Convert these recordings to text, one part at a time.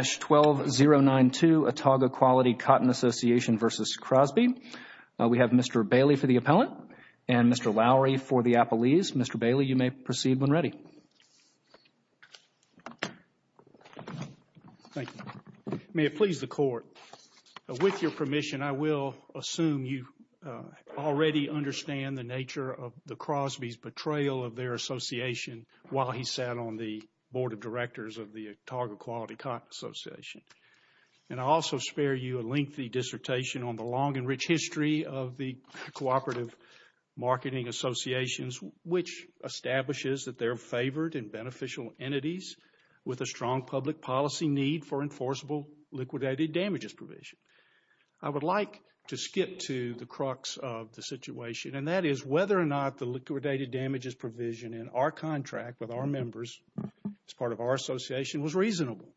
12-092 Atauga Quality Cotton Association v. Crosby. We have Mr. Bailey for the appellant and Mr. Lowry for the appellees. Mr. Bailey, you may proceed when ready. Thank you. May it please the Court, with your permission, I will assume you already understand the nature of the Crosby's betrayal of their association while he sat on the board of directors of the Atauga Quality Cotton Association. And I also spare you a lengthy dissertation on the long and rich history of the cooperative marketing associations, which establishes that they're favored and beneficial entities with a strong public policy need for enforceable liquidated damages provision. I would like to skip to the crux of the situation, and that is whether or not the liquidated damages provision in our contract with our members as part of our association was reasonable.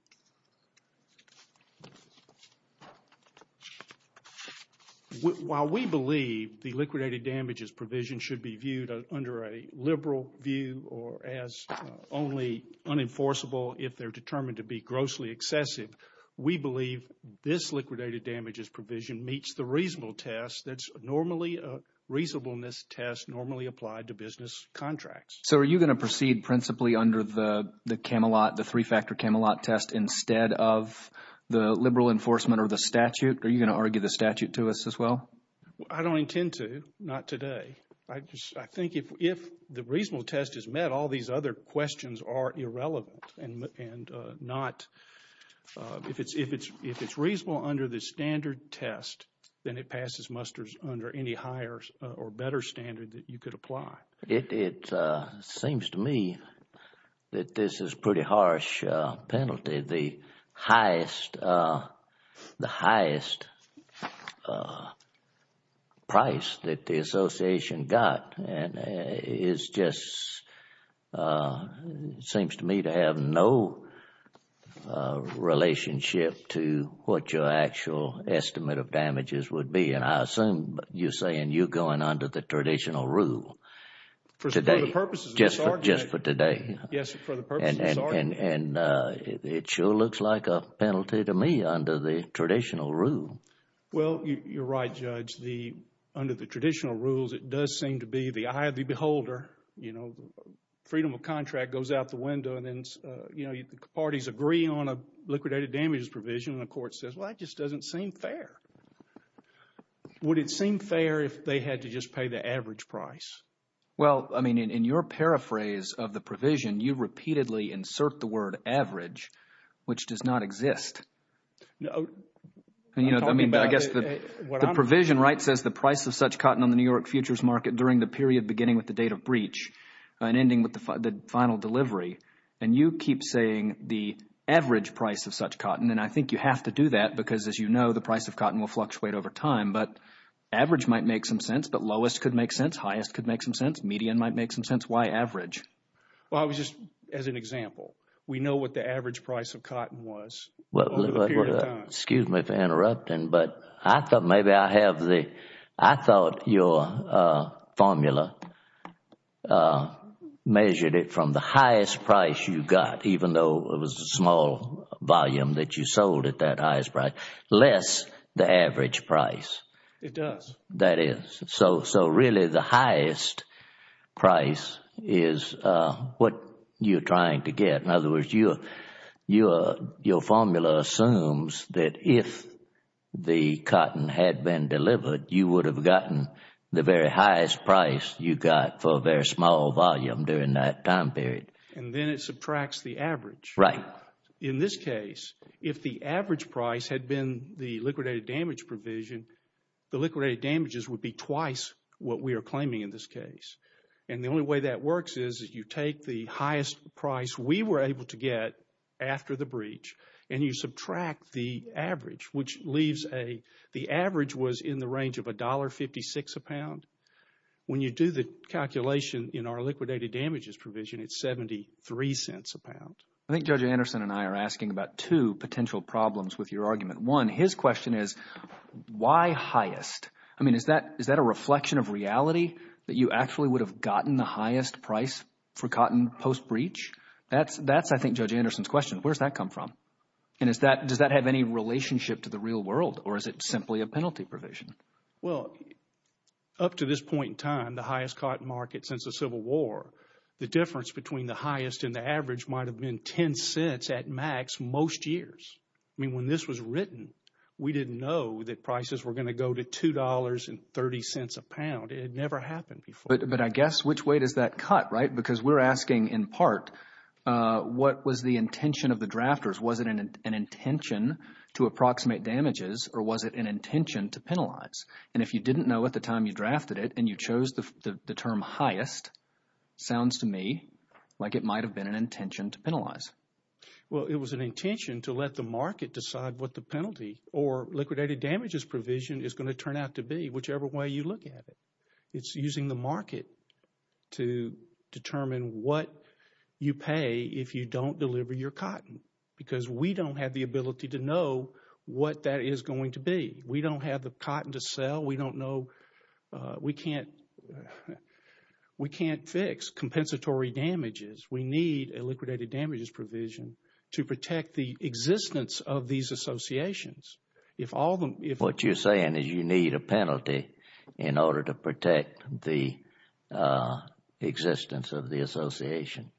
While we believe the liquidated damages provision should be viewed under a liberal view or as only unenforceable if they're determined to be grossly excessive, we believe this liquidated damages provision meets the reasonable test that's normally a reasonableness test normally applied to business contracts. So are you going to proceed principally under the Camelot, the three-factor Camelot test instead of the liberal enforcement or the statute? Are you going to argue the statute to us as well? I don't intend to, not today. I just I think if if the reasonable test is met, all these other questions are irrelevant and not if it's if it's if it's reasonable under the standard test, then it passes musters under any higher or better standard that you could apply. It seems to me that this is pretty harsh penalty. The highest the highest price that the association got is just seems to me to have no relationship to what your actual estimate of damages would be. And I assume you're saying you're going under the traditional rule today, just just for today. Yes. For the purpose and it sure looks like a penalty to me under the traditional rule. Well, you're right, Judge. The under the traditional rules, it does seem to be the eye of the beholder. You know, freedom of contract goes out the window and then, you know, the parties agree on a liquidated damages provision. And the court says, well, it just doesn't seem fair. Would it seem fair if they had to just pay the average price? Well, I mean, in your paraphrase of the provision, you repeatedly insert the word average, which does not exist. No, I mean, I guess the provision right says the price of such cotton on the New York futures market during the period beginning with the date of breach and ending with the final delivery. And you keep saying the average price of such cotton. And I think you have to do that because, as you know, the price of cotton will fluctuate over time. But average might make some sense. But lowest could make sense. Highest could make some sense. Median might make some sense. Why average? Well, I was just as an example. We know what the average price of cotton was. Well, excuse me for interrupting, but I thought maybe I have the I thought your formula measured it from the highest price you got, even though it was a small volume that you sold at that highest price, less the average price. It does. That is so. So really, the highest price is what you're trying to get. In other words, your formula assumes that if the cotton had been delivered, you would have gotten the very highest price you got for a very small volume during that time period. Right. In this case, if the average price had been the liquidated damage provision, the liquidated damages would be twice what we are claiming in this case. And the only way that works is you take the highest price we were able to get after the breach and you subtract the average, which leaves a the average was in the range of a dollar fifty six a pound. When you do the calculation in our liquidated damages provision, it's seventy three cents a pound. I think Judge Anderson and I are asking about two potential problems with your argument. One, his question is why highest? I mean, is that is that a reflection of reality that you actually would have gotten the highest price for cotton post breach? That's that's I think Judge Anderson's question. Where's that come from? And is that does that have any relationship to the real world or is it simply a penalty provision? Well, up to this point in time, the highest cotton market since the Civil War, the difference between the highest and the average might have been 10 cents at max most years. I mean, when this was written, we didn't know that prices were going to go to two dollars and 30 cents a pound. It never happened before. But I guess which way does that cut? Right. Because we're asking, in part, what was the intention of the drafters? Was it an intention to approximate damages or was it an intention to penalize? And if you didn't know at the time you drafted it and you chose the term highest, sounds to me like it might have been an intention to penalize. Well, it was an intention to let the market decide what the penalty or liquidated damages provision is going to turn out to be, whichever way you look at it. It's using the market to determine what you pay if you don't deliver your cotton. Because we don't have the ability to know what that is going to be. We don't have the cotton to sell. We don't know. We can't. We can't fix compensatory damages. We need a liquidated damages provision to protect the existence of these associations. If all of them, if what you're saying is you need a penalty in order to protect the existence of the association.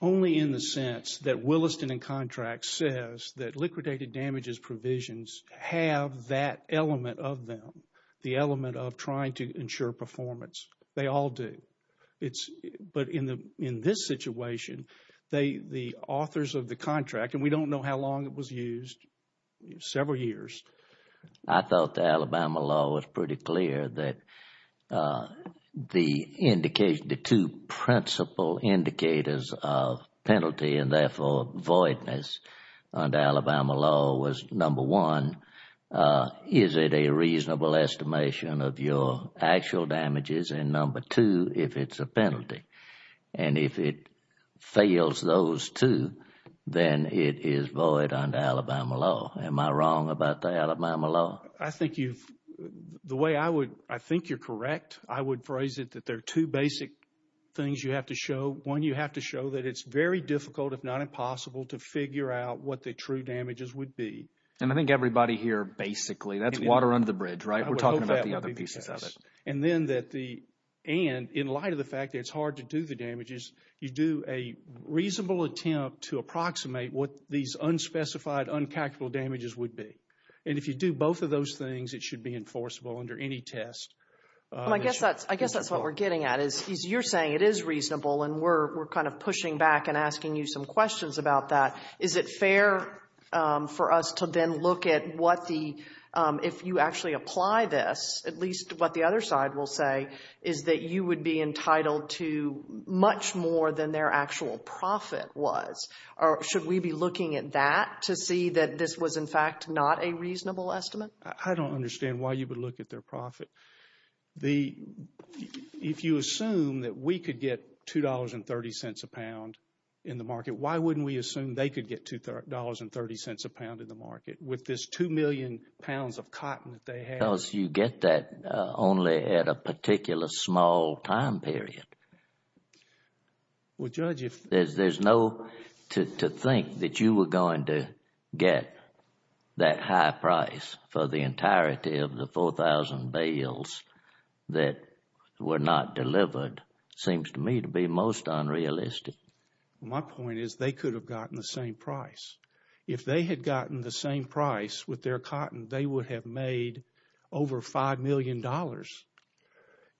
Only in the sense that Williston and Contracts says that liquidated damages provisions have that element of them, the element of trying to ensure performance. They all do. But in this situation, the authors of the contract, and we don't know how long it was used, several years. I thought the Alabama law was pretty clear that the indication, the two principal indicators of penalty and therefore voidness under Alabama law was number one. Is it a reasonable estimation of your actual damages? And number two, if it's a penalty and if it fails those two, then it is void under Alabama law. Am I wrong about the Alabama law? I think you've, the way I would, I think you're correct. I would phrase it that there are two basic things you have to show. One, you have to show that it's very difficult, if not impossible, to figure out what the true damages would be. And I think everybody here, basically, that's water under the bridge, right? We're talking about the other pieces of it. And then that the, and in light of the fact that it's hard to do the damages, you do a reasonable attempt to approximate what these unspecified, uncalculable damages would be. And if you do both of those things, it should be enforceable under any test. I guess that's, I guess that's what we're getting at is you're saying it is reasonable and we're kind of pushing back and asking you some questions about that. Is it fair for us to then look at what the, if you actually apply this, at least what the other side will say, is that you would be entitled to much more than their actual profit was? Or should we be looking at that to see that this was, in fact, not a reasonable estimate? I don't understand why you would look at their profit. The, if you assume that we could get $2.30 a pound in the market, why wouldn't we assume they could get $2.30 a pound in the market with this two million pounds of cotton that they had? Because you get that only at a particular small time period. Well, Judge, if... There's no... to think that you were going to get that high price for the entirety of the 4,000 bales that were not delivered seems to me to be most unrealistic. My point is they could have gotten the same price. If they had gotten the same price with their cotton, they would have made over $5 million.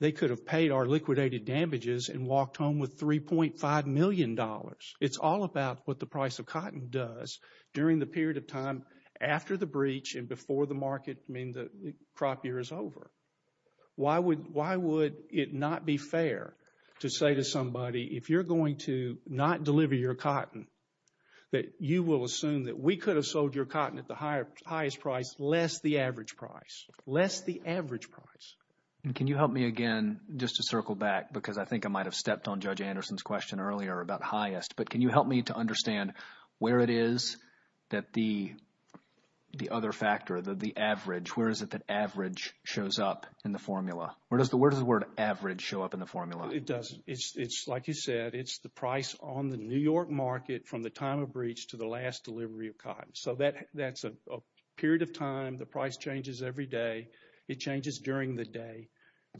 They could have paid our liquidated damages and walked home with $3.5 million. It's all about what the price of cotton does during the period of time after the breach and before the market, I mean, the crop year is over. Why would it not be fair to say to somebody, if you're going to not deliver your cotton, that you will assume that we could have sold your cotton at the highest price less the average price, less the average price? Can you help me again just to circle back because I think I might have stepped on Judge Anderson's question earlier about highest. But can you help me to understand where it is that the other factor, the average, where is it that average shows up in the formula? Where does the word average show up in the formula? It doesn't. It's like you said. It's the price on the New York market from the time of breach to the last delivery of cotton. So that's a period of time. The price changes every day. It changes during the day.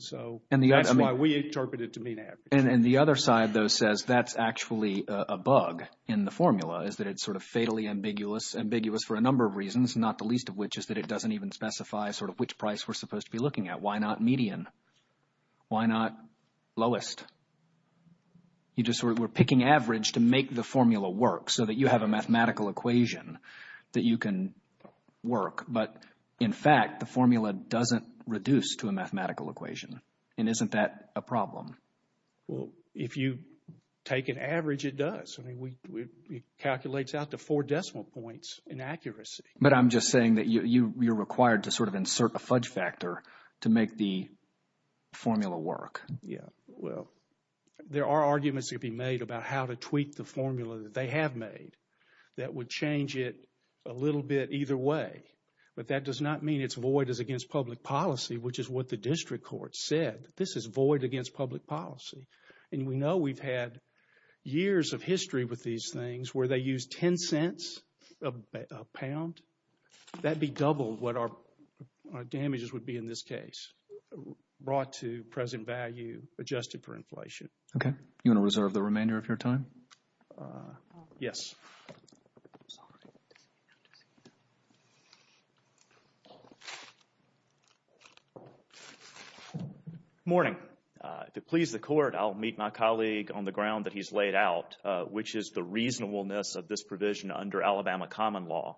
So that's why we interpret it to mean average. And the other side, though, says that's actually a bug in the formula is that it's sort of fatally ambiguous, ambiguous for a number of reasons, not the least of which is that it doesn't even specify sort of which price we're supposed to be looking at. Why not median? Why not lowest? You just sort of were picking average to make the formula work so that you have a mathematical equation that you can work. But in fact, the formula doesn't reduce to a mathematical equation. And isn't that a problem? Well, if you take an average, it does. I mean, it calculates out to four decimal points in accuracy. But I'm just saying that you're required to sort of insert a fudge factor to make the formula work. Yeah, well, there are arguments to be made about how to tweak the formula that they have made that would change it a little bit either way. But that does not mean it's void as against public policy, which is what the district court said. This is void against public policy. And we know we've had years of history with these things where they use 10 cents a pound. That'd be double what our damages would be in this case, brought to present value, adjusted for inflation. Okay. You want to reserve the remainder of your time? Yes. I'm sorry. Good morning. If it pleases the court, I'll meet my colleague on the ground that he's laid out, which is the reasonableness of this provision under Alabama common law.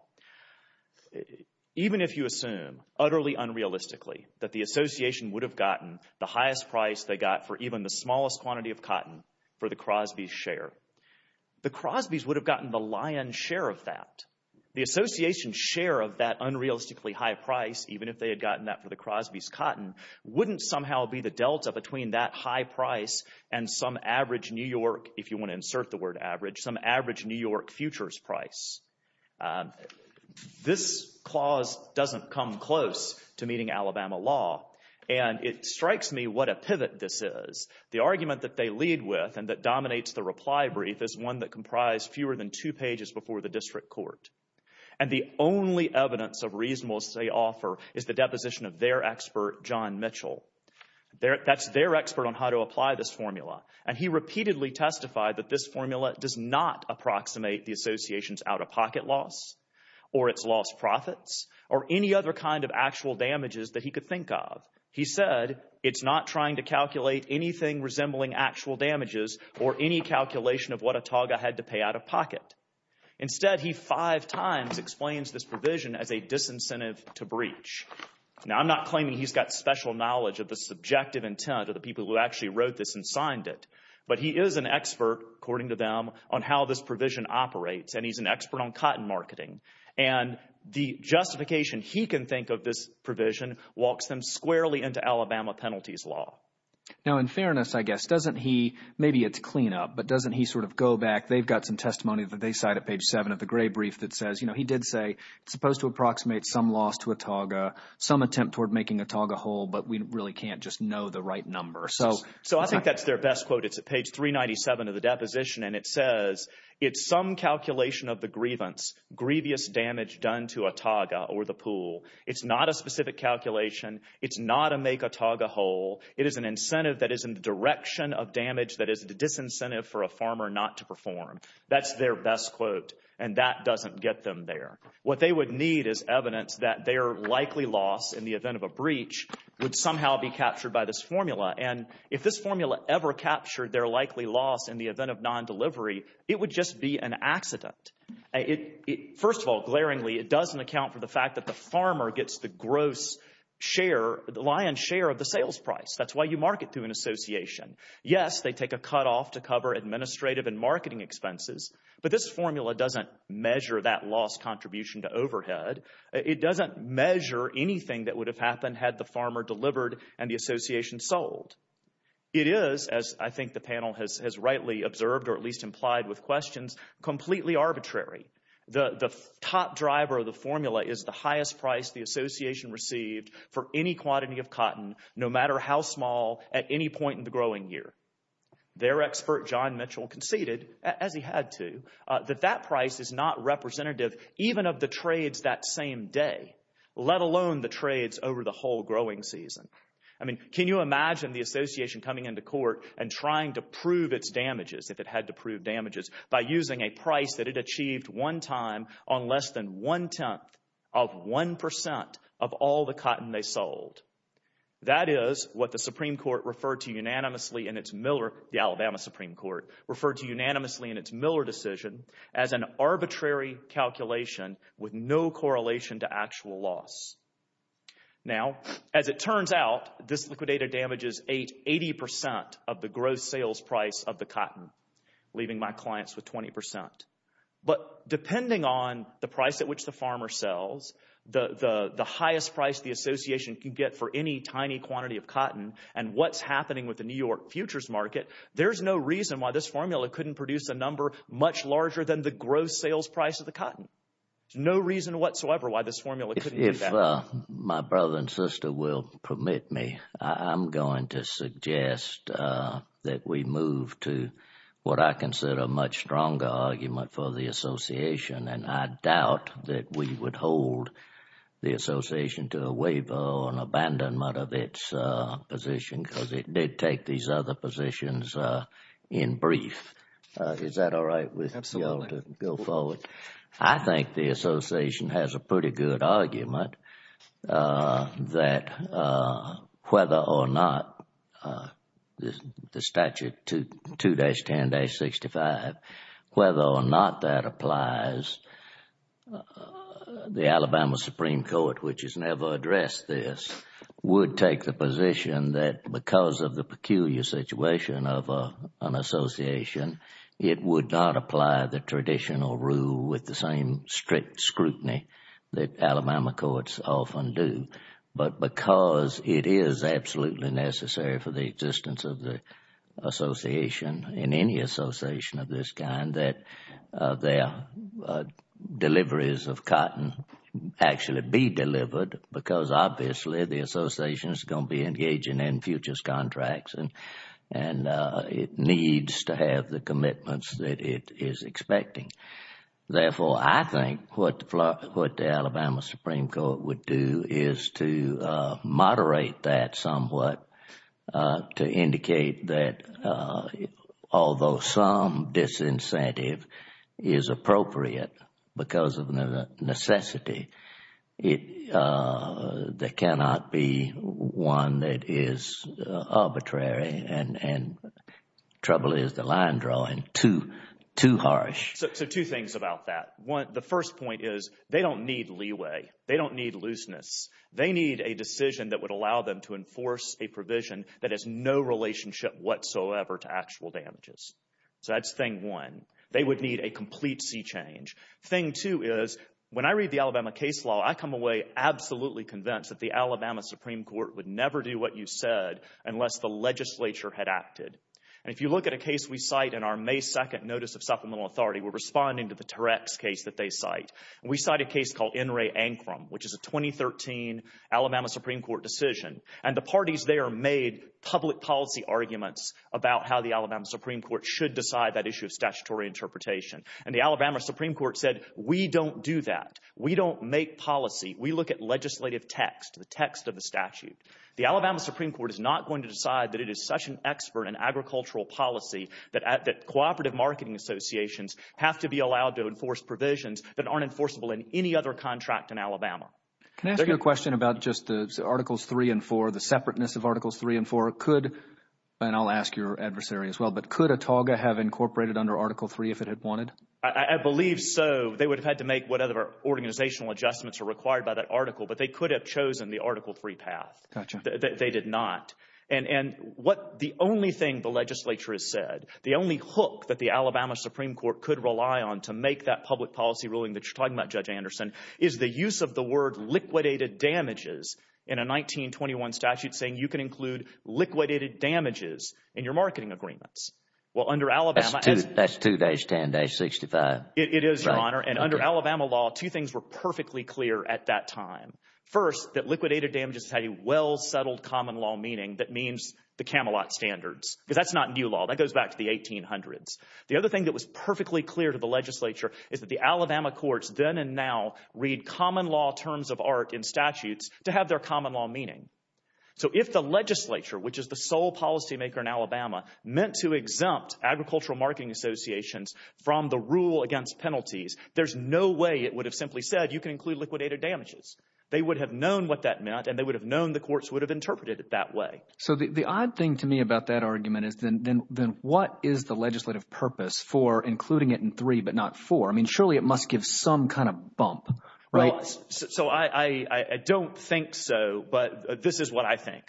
Even if you assume, utterly unrealistically, that the association would have gotten the highest price they got for even the smallest quantity of cotton for the Crosby's share, the Crosby's would have gotten the lion's share of that. The association's share of that unrealistically high price, even if they had gotten that for the Crosby's cotton, wouldn't somehow be the delta between that high price and some average New York, if you want to insert the word average, some average New York futures price. This clause doesn't come close to meeting Alabama law. And it strikes me what a pivot this is. The argument that they lead with and that dominates the reply brief is one that comprised fewer than two pages before the district court. And the only evidence of reasonableness they offer is the deposition of their expert, John Mitchell. That's their expert on how to apply this formula. And he repeatedly testified that this formula does not approximate the association's out-of-pocket loss or its lost profits or any other kind of actual damages that he could think of. He said it's not trying to calculate anything resembling actual damages or any calculation of what Ataga had to pay out-of-pocket. Instead, he five times explains this provision as a disincentive to breach. Now, I'm not claiming he's got special knowledge of the subjective intent of the people who actually wrote this and signed it. But he is an expert, according to them, on how this provision operates. And he's an expert on cotton marketing. And the justification he can think of this provision walks them squarely into Alabama penalties law. Now, in fairness, I guess, doesn't he – maybe it's cleanup, but doesn't he sort of go back? They've got some testimony that they cite at page 7 of the gray brief that says he did say it's supposed to approximate some loss to Ataga, some attempt toward making Ataga whole, but we really can't just know the right number. So I think that's their best quote. It's at page 397 of the deposition, and it says it's some calculation of the grievance, grievous damage done to Ataga or the pool. It's not a specific calculation. It's not a make Ataga whole. It is an incentive that is in the direction of damage that is a disincentive for a farmer not to perform. That's their best quote, and that doesn't get them there. What they would need is evidence that their likely loss in the event of a breach would somehow be captured by this formula. And if this formula ever captured their likely loss in the event of non-delivery, it would just be an accident. First of all, glaringly, it doesn't account for the fact that the farmer gets the gross share, lion's share of the sales price. That's why you market through an association. Yes, they take a cutoff to cover administrative and marketing expenses. But this formula doesn't measure that loss contribution to overhead. It doesn't measure anything that would have happened had the farmer delivered and the association sold. It is, as I think the panel has rightly observed or at least implied with questions, completely arbitrary. The top driver of the formula is the highest price the association received for any quantity of cotton, no matter how small, at any point in the growing year. Their expert, John Mitchell, conceded, as he had to, that that price is not representative even of the trades that same day, let alone the trades over the whole growing season. I mean, can you imagine the association coming into court and trying to prove its damages, if it had to prove damages, by using a price that it achieved one time on less than one-tenth of one percent of all the cotton they sold? That is what the Supreme Court referred to unanimously in its Miller, the Alabama Supreme Court, referred to unanimously in its Miller decision as an arbitrary calculation with no correlation to actual loss. Now, as it turns out, this liquidator damages 80 percent of the gross sales price of the cotton, leaving my clients with 20 percent. But depending on the price at which the farmer sells, the highest price the association can get for any tiny quantity of cotton, and what is happening with the New York futures market, there is no reason why this formula couldn't produce a number much larger than the gross sales price of the cotton. There is no reason whatsoever why this formula couldn't do that. If my brother and sister will permit me, I'm going to suggest that we move to what I consider a much stronger argument for the association, and I doubt that we would hold the association to a waiver or an abandonment of its position because it did take these other positions in brief. Is that all right with you all to go forward? I think the association has a pretty good argument that whether or not the statute 2-10-65, whether or not that applies, the Alabama Supreme Court, which has never addressed this, would take the position that because of the peculiar situation of an association, it would not apply the traditional rule with the same strict scrutiny that Alabama courts often do. But because it is absolutely necessary for the existence of the association, in any association of this kind, that their deliveries of cotton actually be delivered, because obviously the association is going to be engaging in futures contracts and it needs to have the commitments that it is expecting. Therefore, I think what the Alabama Supreme Court would do is to moderate that somewhat to indicate that although some disincentive is appropriate because of necessity, there cannot be one that is arbitrary and trouble is the line drawing too harsh. So two things about that. One, the first point is they don't need leeway. They don't need looseness. They need a decision that would allow them to enforce a provision that has no relationship whatsoever to actual damages. So that's thing one. They would need a complete sea change. Thing two is when I read the Alabama case law, I come away absolutely convinced that the Alabama Supreme Court would never do what you said unless the legislature had acted. And if you look at a case we cite in our May 2nd Notice of Supplemental Authority, we're responding to the Turex case that they cite. We cite a case called N. Ray Ancrum, which is a 2013 Alabama Supreme Court decision. And the parties there made public policy arguments about how the Alabama Supreme Court should decide that issue of statutory interpretation. And the Alabama Supreme Court said we don't do that. We don't make policy. We look at legislative text, the text of the statute. The Alabama Supreme Court is not going to decide that it is such an expert in agricultural policy that cooperative marketing associations have to be allowed to enforce provisions that aren't enforceable in any other contract in Alabama. Can I ask you a question about just the Articles 3 and 4, the separateness of Articles 3 and 4? Could, and I'll ask your adversary as well, but could ATAGA have incorporated under Article 3 if it had wanted? I believe so. They would have had to make whatever organizational adjustments are required by that article, but they could have chosen the Article 3 path. They did not. And what the only thing the legislature has said, the only hook that the Alabama Supreme Court could rely on to make that public policy ruling that you're talking about, Judge Anderson, is the use of the word liquidated damages in a 1921 statute saying you can include liquidated damages in your marketing agreements. Well, under Alabama— That's 2-10-65. It is, Your Honor. And under Alabama law, two things were perfectly clear at that time. First, that liquidated damages had a well-settled common law meaning that means the Camelot Standards, because that's not new law. That goes back to the 1800s. The other thing that was perfectly clear to the legislature is that the Alabama courts then and now read common law terms of art in statutes to have their common law meaning. So if the legislature, which is the sole policymaker in Alabama, meant to exempt agricultural marketing associations from the rule against penalties, there's no way it would have simply said you can include liquidated damages. They would have known what that meant, and they would have known the courts would have interpreted it that way. So the odd thing to me about that argument is then what is the legislative purpose for including it in 3 but not 4? I mean surely it must give some kind of bump, right? Well, so I don't think so, but this is what I think.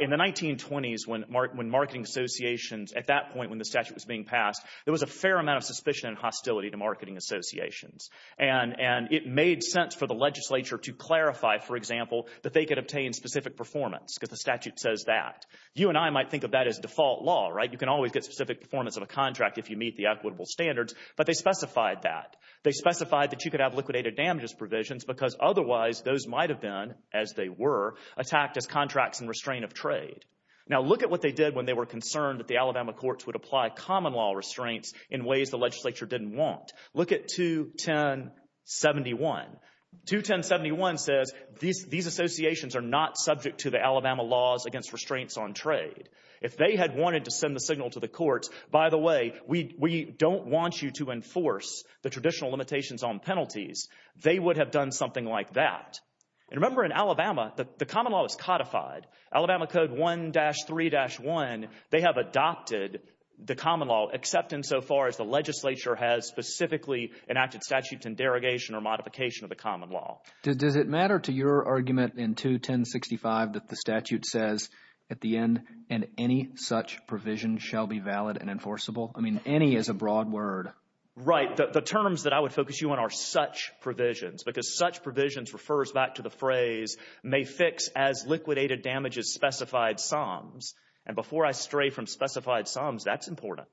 In the 1920s when marketing associations, at that point when the statute was being passed, there was a fair amount of suspicion and hostility to marketing associations. And it made sense for the legislature to clarify, for example, that they could obtain specific performance because the statute says that. You and I might think of that as default law, right? You can always get specific performance of a contract if you meet the equitable standards, but they specified that. They specified that you could have liquidated damages provisions because otherwise those might have been, as they were, attacked as contracts and restraint of trade. Now look at what they did when they were concerned that the Alabama courts would apply common law restraints in ways the legislature didn't want. Look at 21071. 21071 says these associations are not subject to the Alabama laws against restraints on trade. If they had wanted to send the signal to the courts, by the way, we don't want you to enforce the traditional limitations on penalties, they would have done something like that. And remember in Alabama, the common law is codified. Alabama Code 1-3-1, they have adopted the common law except insofar as the legislature has specifically enacted statutes in derogation or modification of the common law. Does it matter to your argument in 21065 that the statute says at the end, and any such provision shall be valid and enforceable? I mean, any is a broad word. Right. The terms that I would focus you on are such provisions because such provisions refers back to the phrase may fix as liquidated damages specified sums. And before I stray from specified sums, that's important.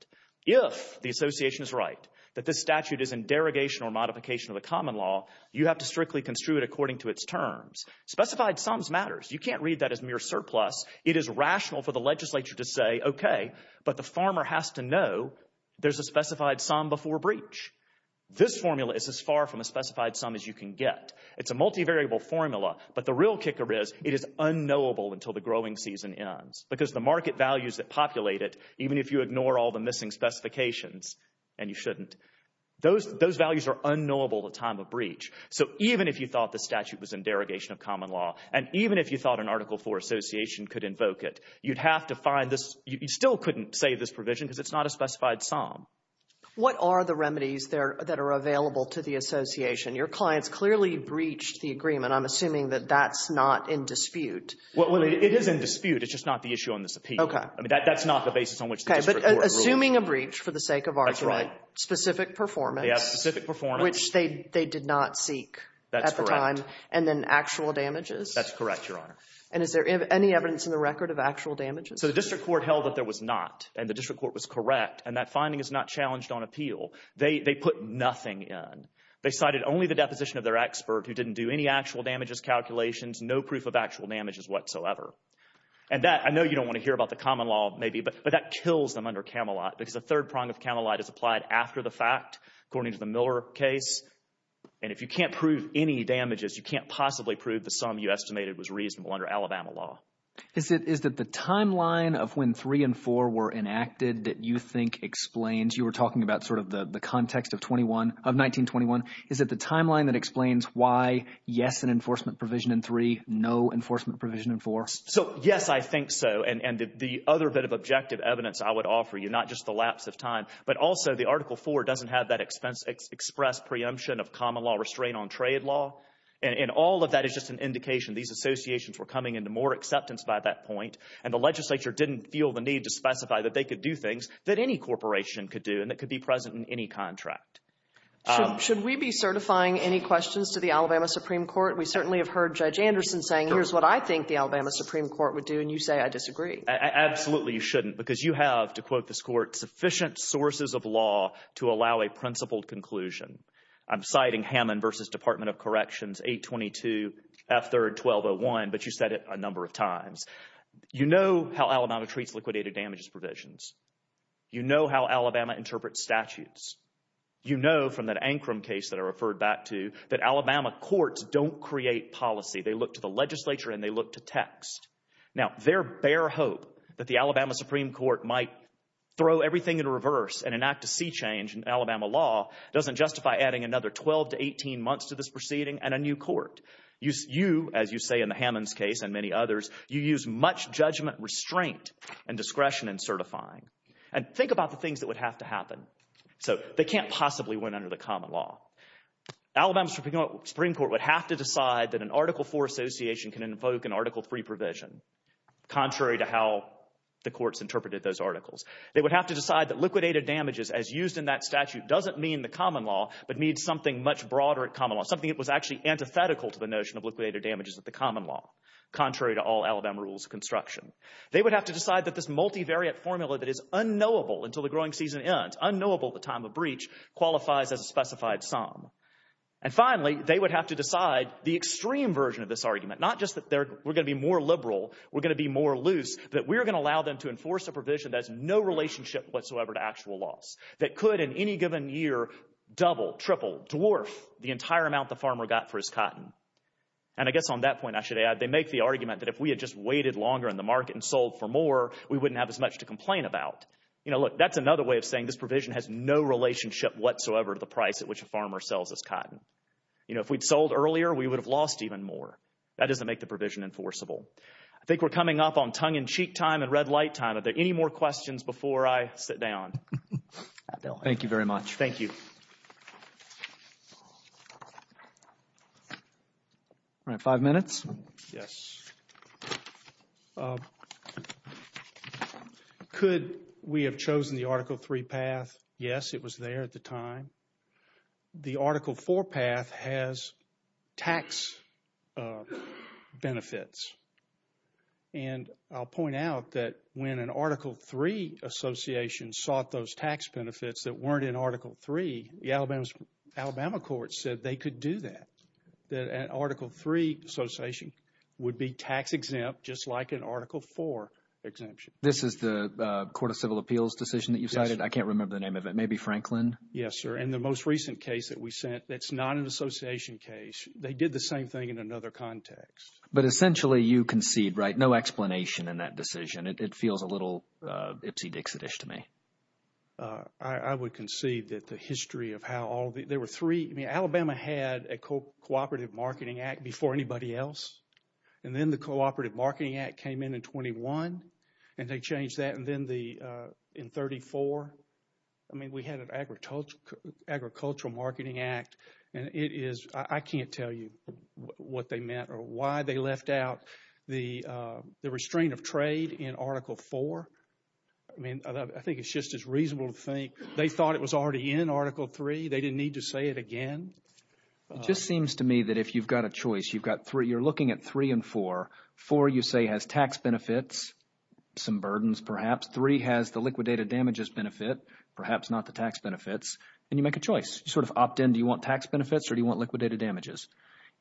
If the association is right that this statute is in derogation or modification of the common law, you have to strictly construe it according to its terms. Specified sums matters. You can't read that as mere surplus. It is rational for the legislature to say, okay, but the farmer has to know there's a specified sum before breach. This formula is as far from a specified sum as you can get. It's a multivariable formula. But the real kicker is it is unknowable until the growing season ends. Because the market values that populate it, even if you ignore all the missing specifications, and you shouldn't, those values are unknowable at the time of breach. So even if you thought the statute was in derogation of common law, and even if you thought an Article IV association could invoke it, you'd have to find this. You still couldn't say this provision because it's not a specified sum. What are the remedies that are available to the association? Your clients clearly breached the agreement. I'm assuming that that's not in dispute. Well, it is in dispute. It's just not the issue on this appeal. Okay. I mean, that's not the basis on which the district court ruled. Okay, but assuming a breach for the sake of argument. That's right. Specific performance. They have specific performance. Which they did not seek at the time. That's correct. And then actual damages? That's correct, Your Honor. And is there any evidence in the record of actual damages? So the district court held that there was not, and the district court was correct, and that finding is not challenged on appeal. They put nothing in. They cited only the deposition of their expert who didn't do any actual damages calculations, no proof of actual damages whatsoever. And that, I know you don't want to hear about the common law, maybe, but that kills them under Camelot because the third prong of Camelot is applied after the fact, according to the Miller case, and if you can't prove any damages, you can't possibly prove the sum you estimated was reasonable under Alabama law. Is it the timeline of when 3 and 4 were enacted that you think explains? You were talking about sort of the context of 1921. Is it the timeline that explains why, yes, an enforcement provision in 3, no enforcement provision in 4? So, yes, I think so, and the other bit of objective evidence I would offer you, not just the lapse of time, but also the Article 4 doesn't have that express preemption of common law restraint on trade law, and all of that is just an indication these associations were coming into more acceptance by that point, and the legislature didn't feel the need to specify that they could do things that any corporation could do and that could be present in any contract. Should we be certifying any questions to the Alabama Supreme Court? We certainly have heard Judge Anderson saying here's what I think the Alabama Supreme Court would do, and you say I disagree. Absolutely you shouldn't because you have, to quote this court, sufficient sources of law to allow a principled conclusion. I'm citing Hammond v. Department of Corrections 822 F. 3rd 1201, but you said it a number of times. You know how Alabama treats liquidated damages provisions. You know how Alabama interprets statutes. You know from that Ankram case that I referred back to that Alabama courts don't create policy. They look to the legislature and they look to text. Now, their bare hope that the Alabama Supreme Court might throw everything in reverse and enact a sea change in Alabama law doesn't justify adding another 12 to 18 months to this proceeding and a new court. You, as you say in the Hammonds case and many others, you use much judgment, restraint, and discretion in certifying. And think about the things that would have to happen. So they can't possibly win under the common law. Alabama Supreme Court would have to decide that an Article IV association can invoke an Article III provision, contrary to how the courts interpreted those articles. They would have to decide that liquidated damages as used in that statute doesn't mean the common law, but means something much broader at common law, something that was actually antithetical to the notion of liquidated damages at the common law, contrary to all Alabama rules of construction. They would have to decide that this multivariate formula that is unknowable until the growing season ends, unknowable at the time of breach, qualifies as a specified sum. And finally, they would have to decide the extreme version of this argument, not just that we're going to be more liberal, we're going to be more loose, that we're going to allow them to enforce a provision that has no relationship whatsoever to actual loss, that could in any given year double, triple, dwarf the entire amount the farmer got for his cotton. And I guess on that point I should add, they make the argument that if we had just waited longer in the market and sold for more, we wouldn't have as much to complain about. You know, look, that's another way of saying this provision has no relationship whatsoever to the price at which a farmer sells his cotton. You know, if we'd sold earlier, we would have lost even more. That doesn't make the provision enforceable. I think we're coming up on tongue-in-cheek time and red light time. Are there any more questions before I sit down? Thank you very much. Thank you. All right, five minutes. Yes. Could we have chosen the Article III path? Yes, it was there at the time. The Article IV path has tax benefits. And I'll point out that when an Article III association sought those tax benefits that weren't in Article III, the Alabama courts said they could do that, that an Article III association would be tax exempt just like an Article IV exemption. This is the Court of Civil Appeals decision that you cited? Yes. I can't remember the name of it. Maybe Franklin? Yes, sir. And the most recent case that we sent, that's not an association case. They did the same thing in another context. But essentially, you concede, right? No explanation in that decision. It feels a little ipsy-dixitish to me. I would concede that the history of how all the – there were three – I mean, Alabama had a Cooperative Marketing Act before anybody else. And then the Cooperative Marketing Act came in in 21, and they changed that. And then in 34, I mean, we had an Agricultural Marketing Act. And it is – I can't tell you what they meant or why they left out the restraint of trade in Article IV. I mean, I think it's just as reasonable to think they thought it was already in Article III. They didn't need to say it again. It just seems to me that if you've got a choice, you've got three – you're looking at three and four. Four, you say, has tax benefits, some burdens perhaps. Three has the liquidated damages benefit, perhaps not the tax benefits. And you make a choice. You sort of opt in. Do you want tax benefits or do you want liquidated damages?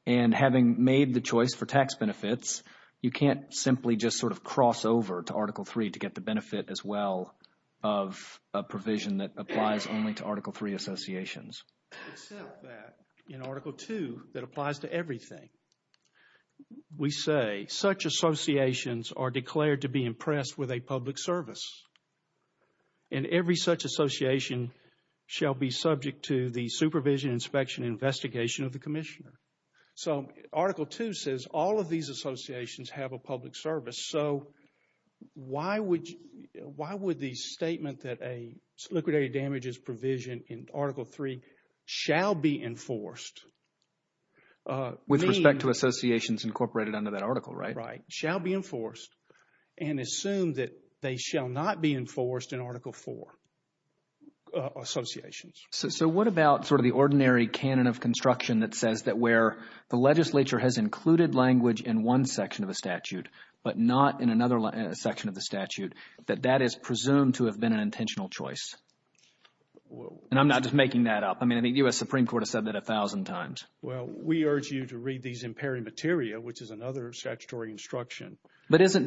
And having made the choice for tax benefits, you can't simply just sort of cross over to Article III to get the benefit as well of a provision that applies only to Article III associations. Except that in Article II, that applies to everything. We say, such associations are declared to be impressed with a public service. And every such association shall be subject to the supervision, inspection, and investigation of the commissioner. So Article II says all of these associations have a public service. So why would the statement that a liquidated damages provision in Article III shall be enforced mean – With respect to associations incorporated under that article, right? Right. Shall be enforced and assume that they shall not be enforced in Article IV associations. So what about sort of the ordinary canon of construction that says that where the legislature has included language in one section of the statute but not in another section of the statute, that that is presumed to have been an intentional choice? And I'm not just making that up. I mean, the U.S. Supreme Court has said that a thousand times. Well, we urge you to read these in pari materia, which is another statutory instruction. But doesn't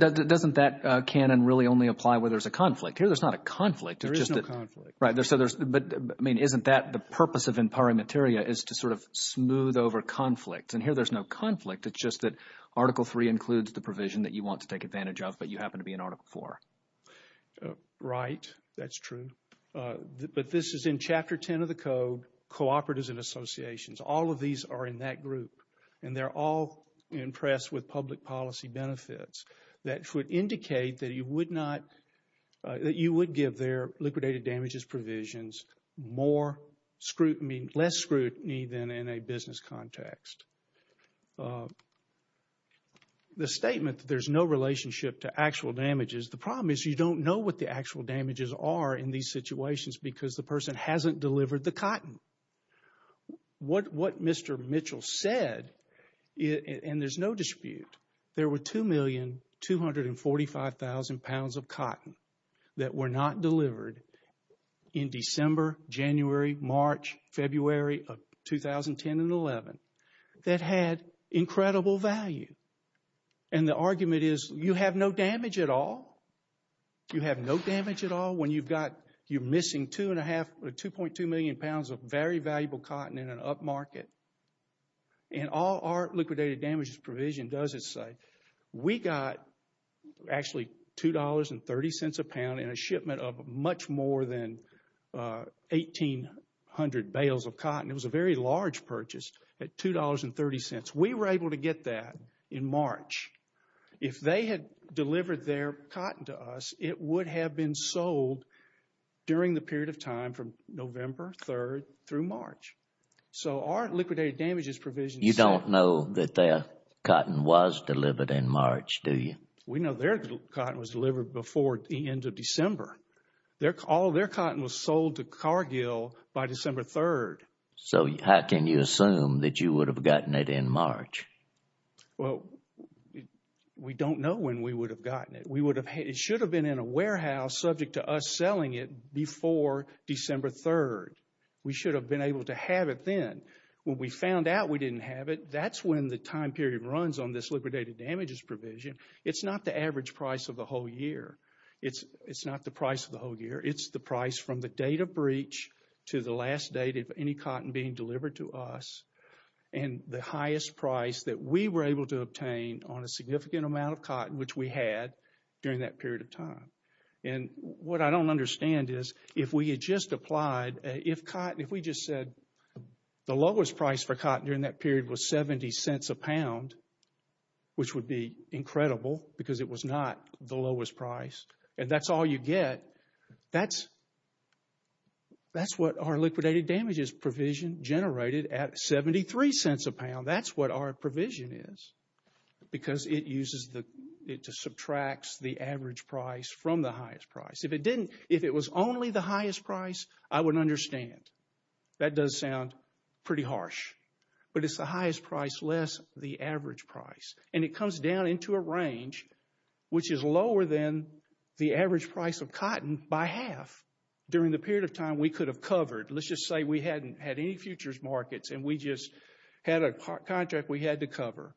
that canon really only apply where there's a conflict? Here there's not a conflict. There is no conflict. Right. But, I mean, isn't that the purpose of in pari materia is to sort of smooth over conflict? And here there's no conflict. It's just that Article III includes the provision that you want to take advantage of but you happen to be in Article IV. Right. That's true. But this is in Chapter 10 of the code, cooperatives and associations. All of these are in that group. And they're all impressed with public policy benefits that would indicate that you would not – the statement that there's no relationship to actual damages, the problem is you don't know what the actual damages are in these situations because the person hasn't delivered the cotton. What Mr. Mitchell said, and there's no dispute, there were 2,245,000 pounds of cotton that were not delivered in December, January, March, February of 2010 and 11. That had incredible value. And the argument is you have no damage at all. You have no damage at all when you've got – you're missing 2.2 million pounds of very valuable cotton in an upmarket. And all our liquidated damages provision doesn't say. We got actually $2.30 a pound in a shipment of much more than 1,800 bales of cotton. It was a very large purchase at $2.30. We were able to get that in March. If they had delivered their cotton to us, it would have been sold during the period of time from November 3rd through March. So our liquidated damages provision – You don't know that their cotton was delivered in March, do you? We know their cotton was delivered before the end of December. All their cotton was sold to Cargill by December 3rd. So how can you assume that you would have gotten it in March? Well, we don't know when we would have gotten it. It should have been in a warehouse subject to us selling it before December 3rd. We should have been able to have it then. When we found out we didn't have it, that's when the time period runs on this liquidated damages provision. It's not the average price of the whole year. It's not the price of the whole year. It's the price from the date of breach to the last date of any cotton being delivered to us and the highest price that we were able to obtain on a significant amount of cotton, which we had during that period of time. And what I don't understand is if we had just applied – if we just said the lowest price for cotton during that period was 70 cents a pound, which would be incredible because it was not the lowest price, and that's all you get, that's what our liquidated damages provision generated at 73 cents a pound. That's what our provision is. Because it uses the – it just subtracts the average price from the highest price. If it didn't – if it was only the highest price, I would understand. That does sound pretty harsh. But it's the highest price less the average price. And it comes down into a range which is lower than the average price of cotton by half during the period of time we could have covered. Let's just say we hadn't had any futures markets and we just had a contract we had to cover.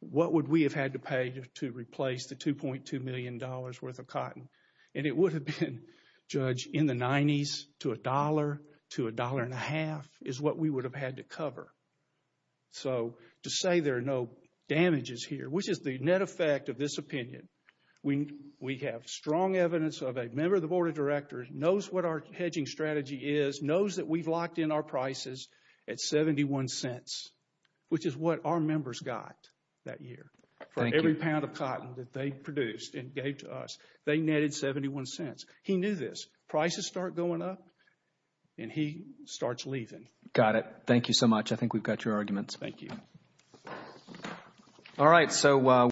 What would we have had to pay to replace the $2.2 million worth of cotton? And it would have been, Judge, in the 90s to $1 to $1.5 is what we would have had to cover. So to say there are no damages here, which is the net effect of this opinion, we have strong evidence of a member of the Board of Directors knows what our hedging strategy is, knows that we've locked in our prices at 71 cents, which is what our members got that year for every pound of cotton that they produced and gave to us. They netted 71 cents. He knew this. Prices start going up and he starts leaving. Got it. Thank you so much. I think we've got your arguments. Thank you.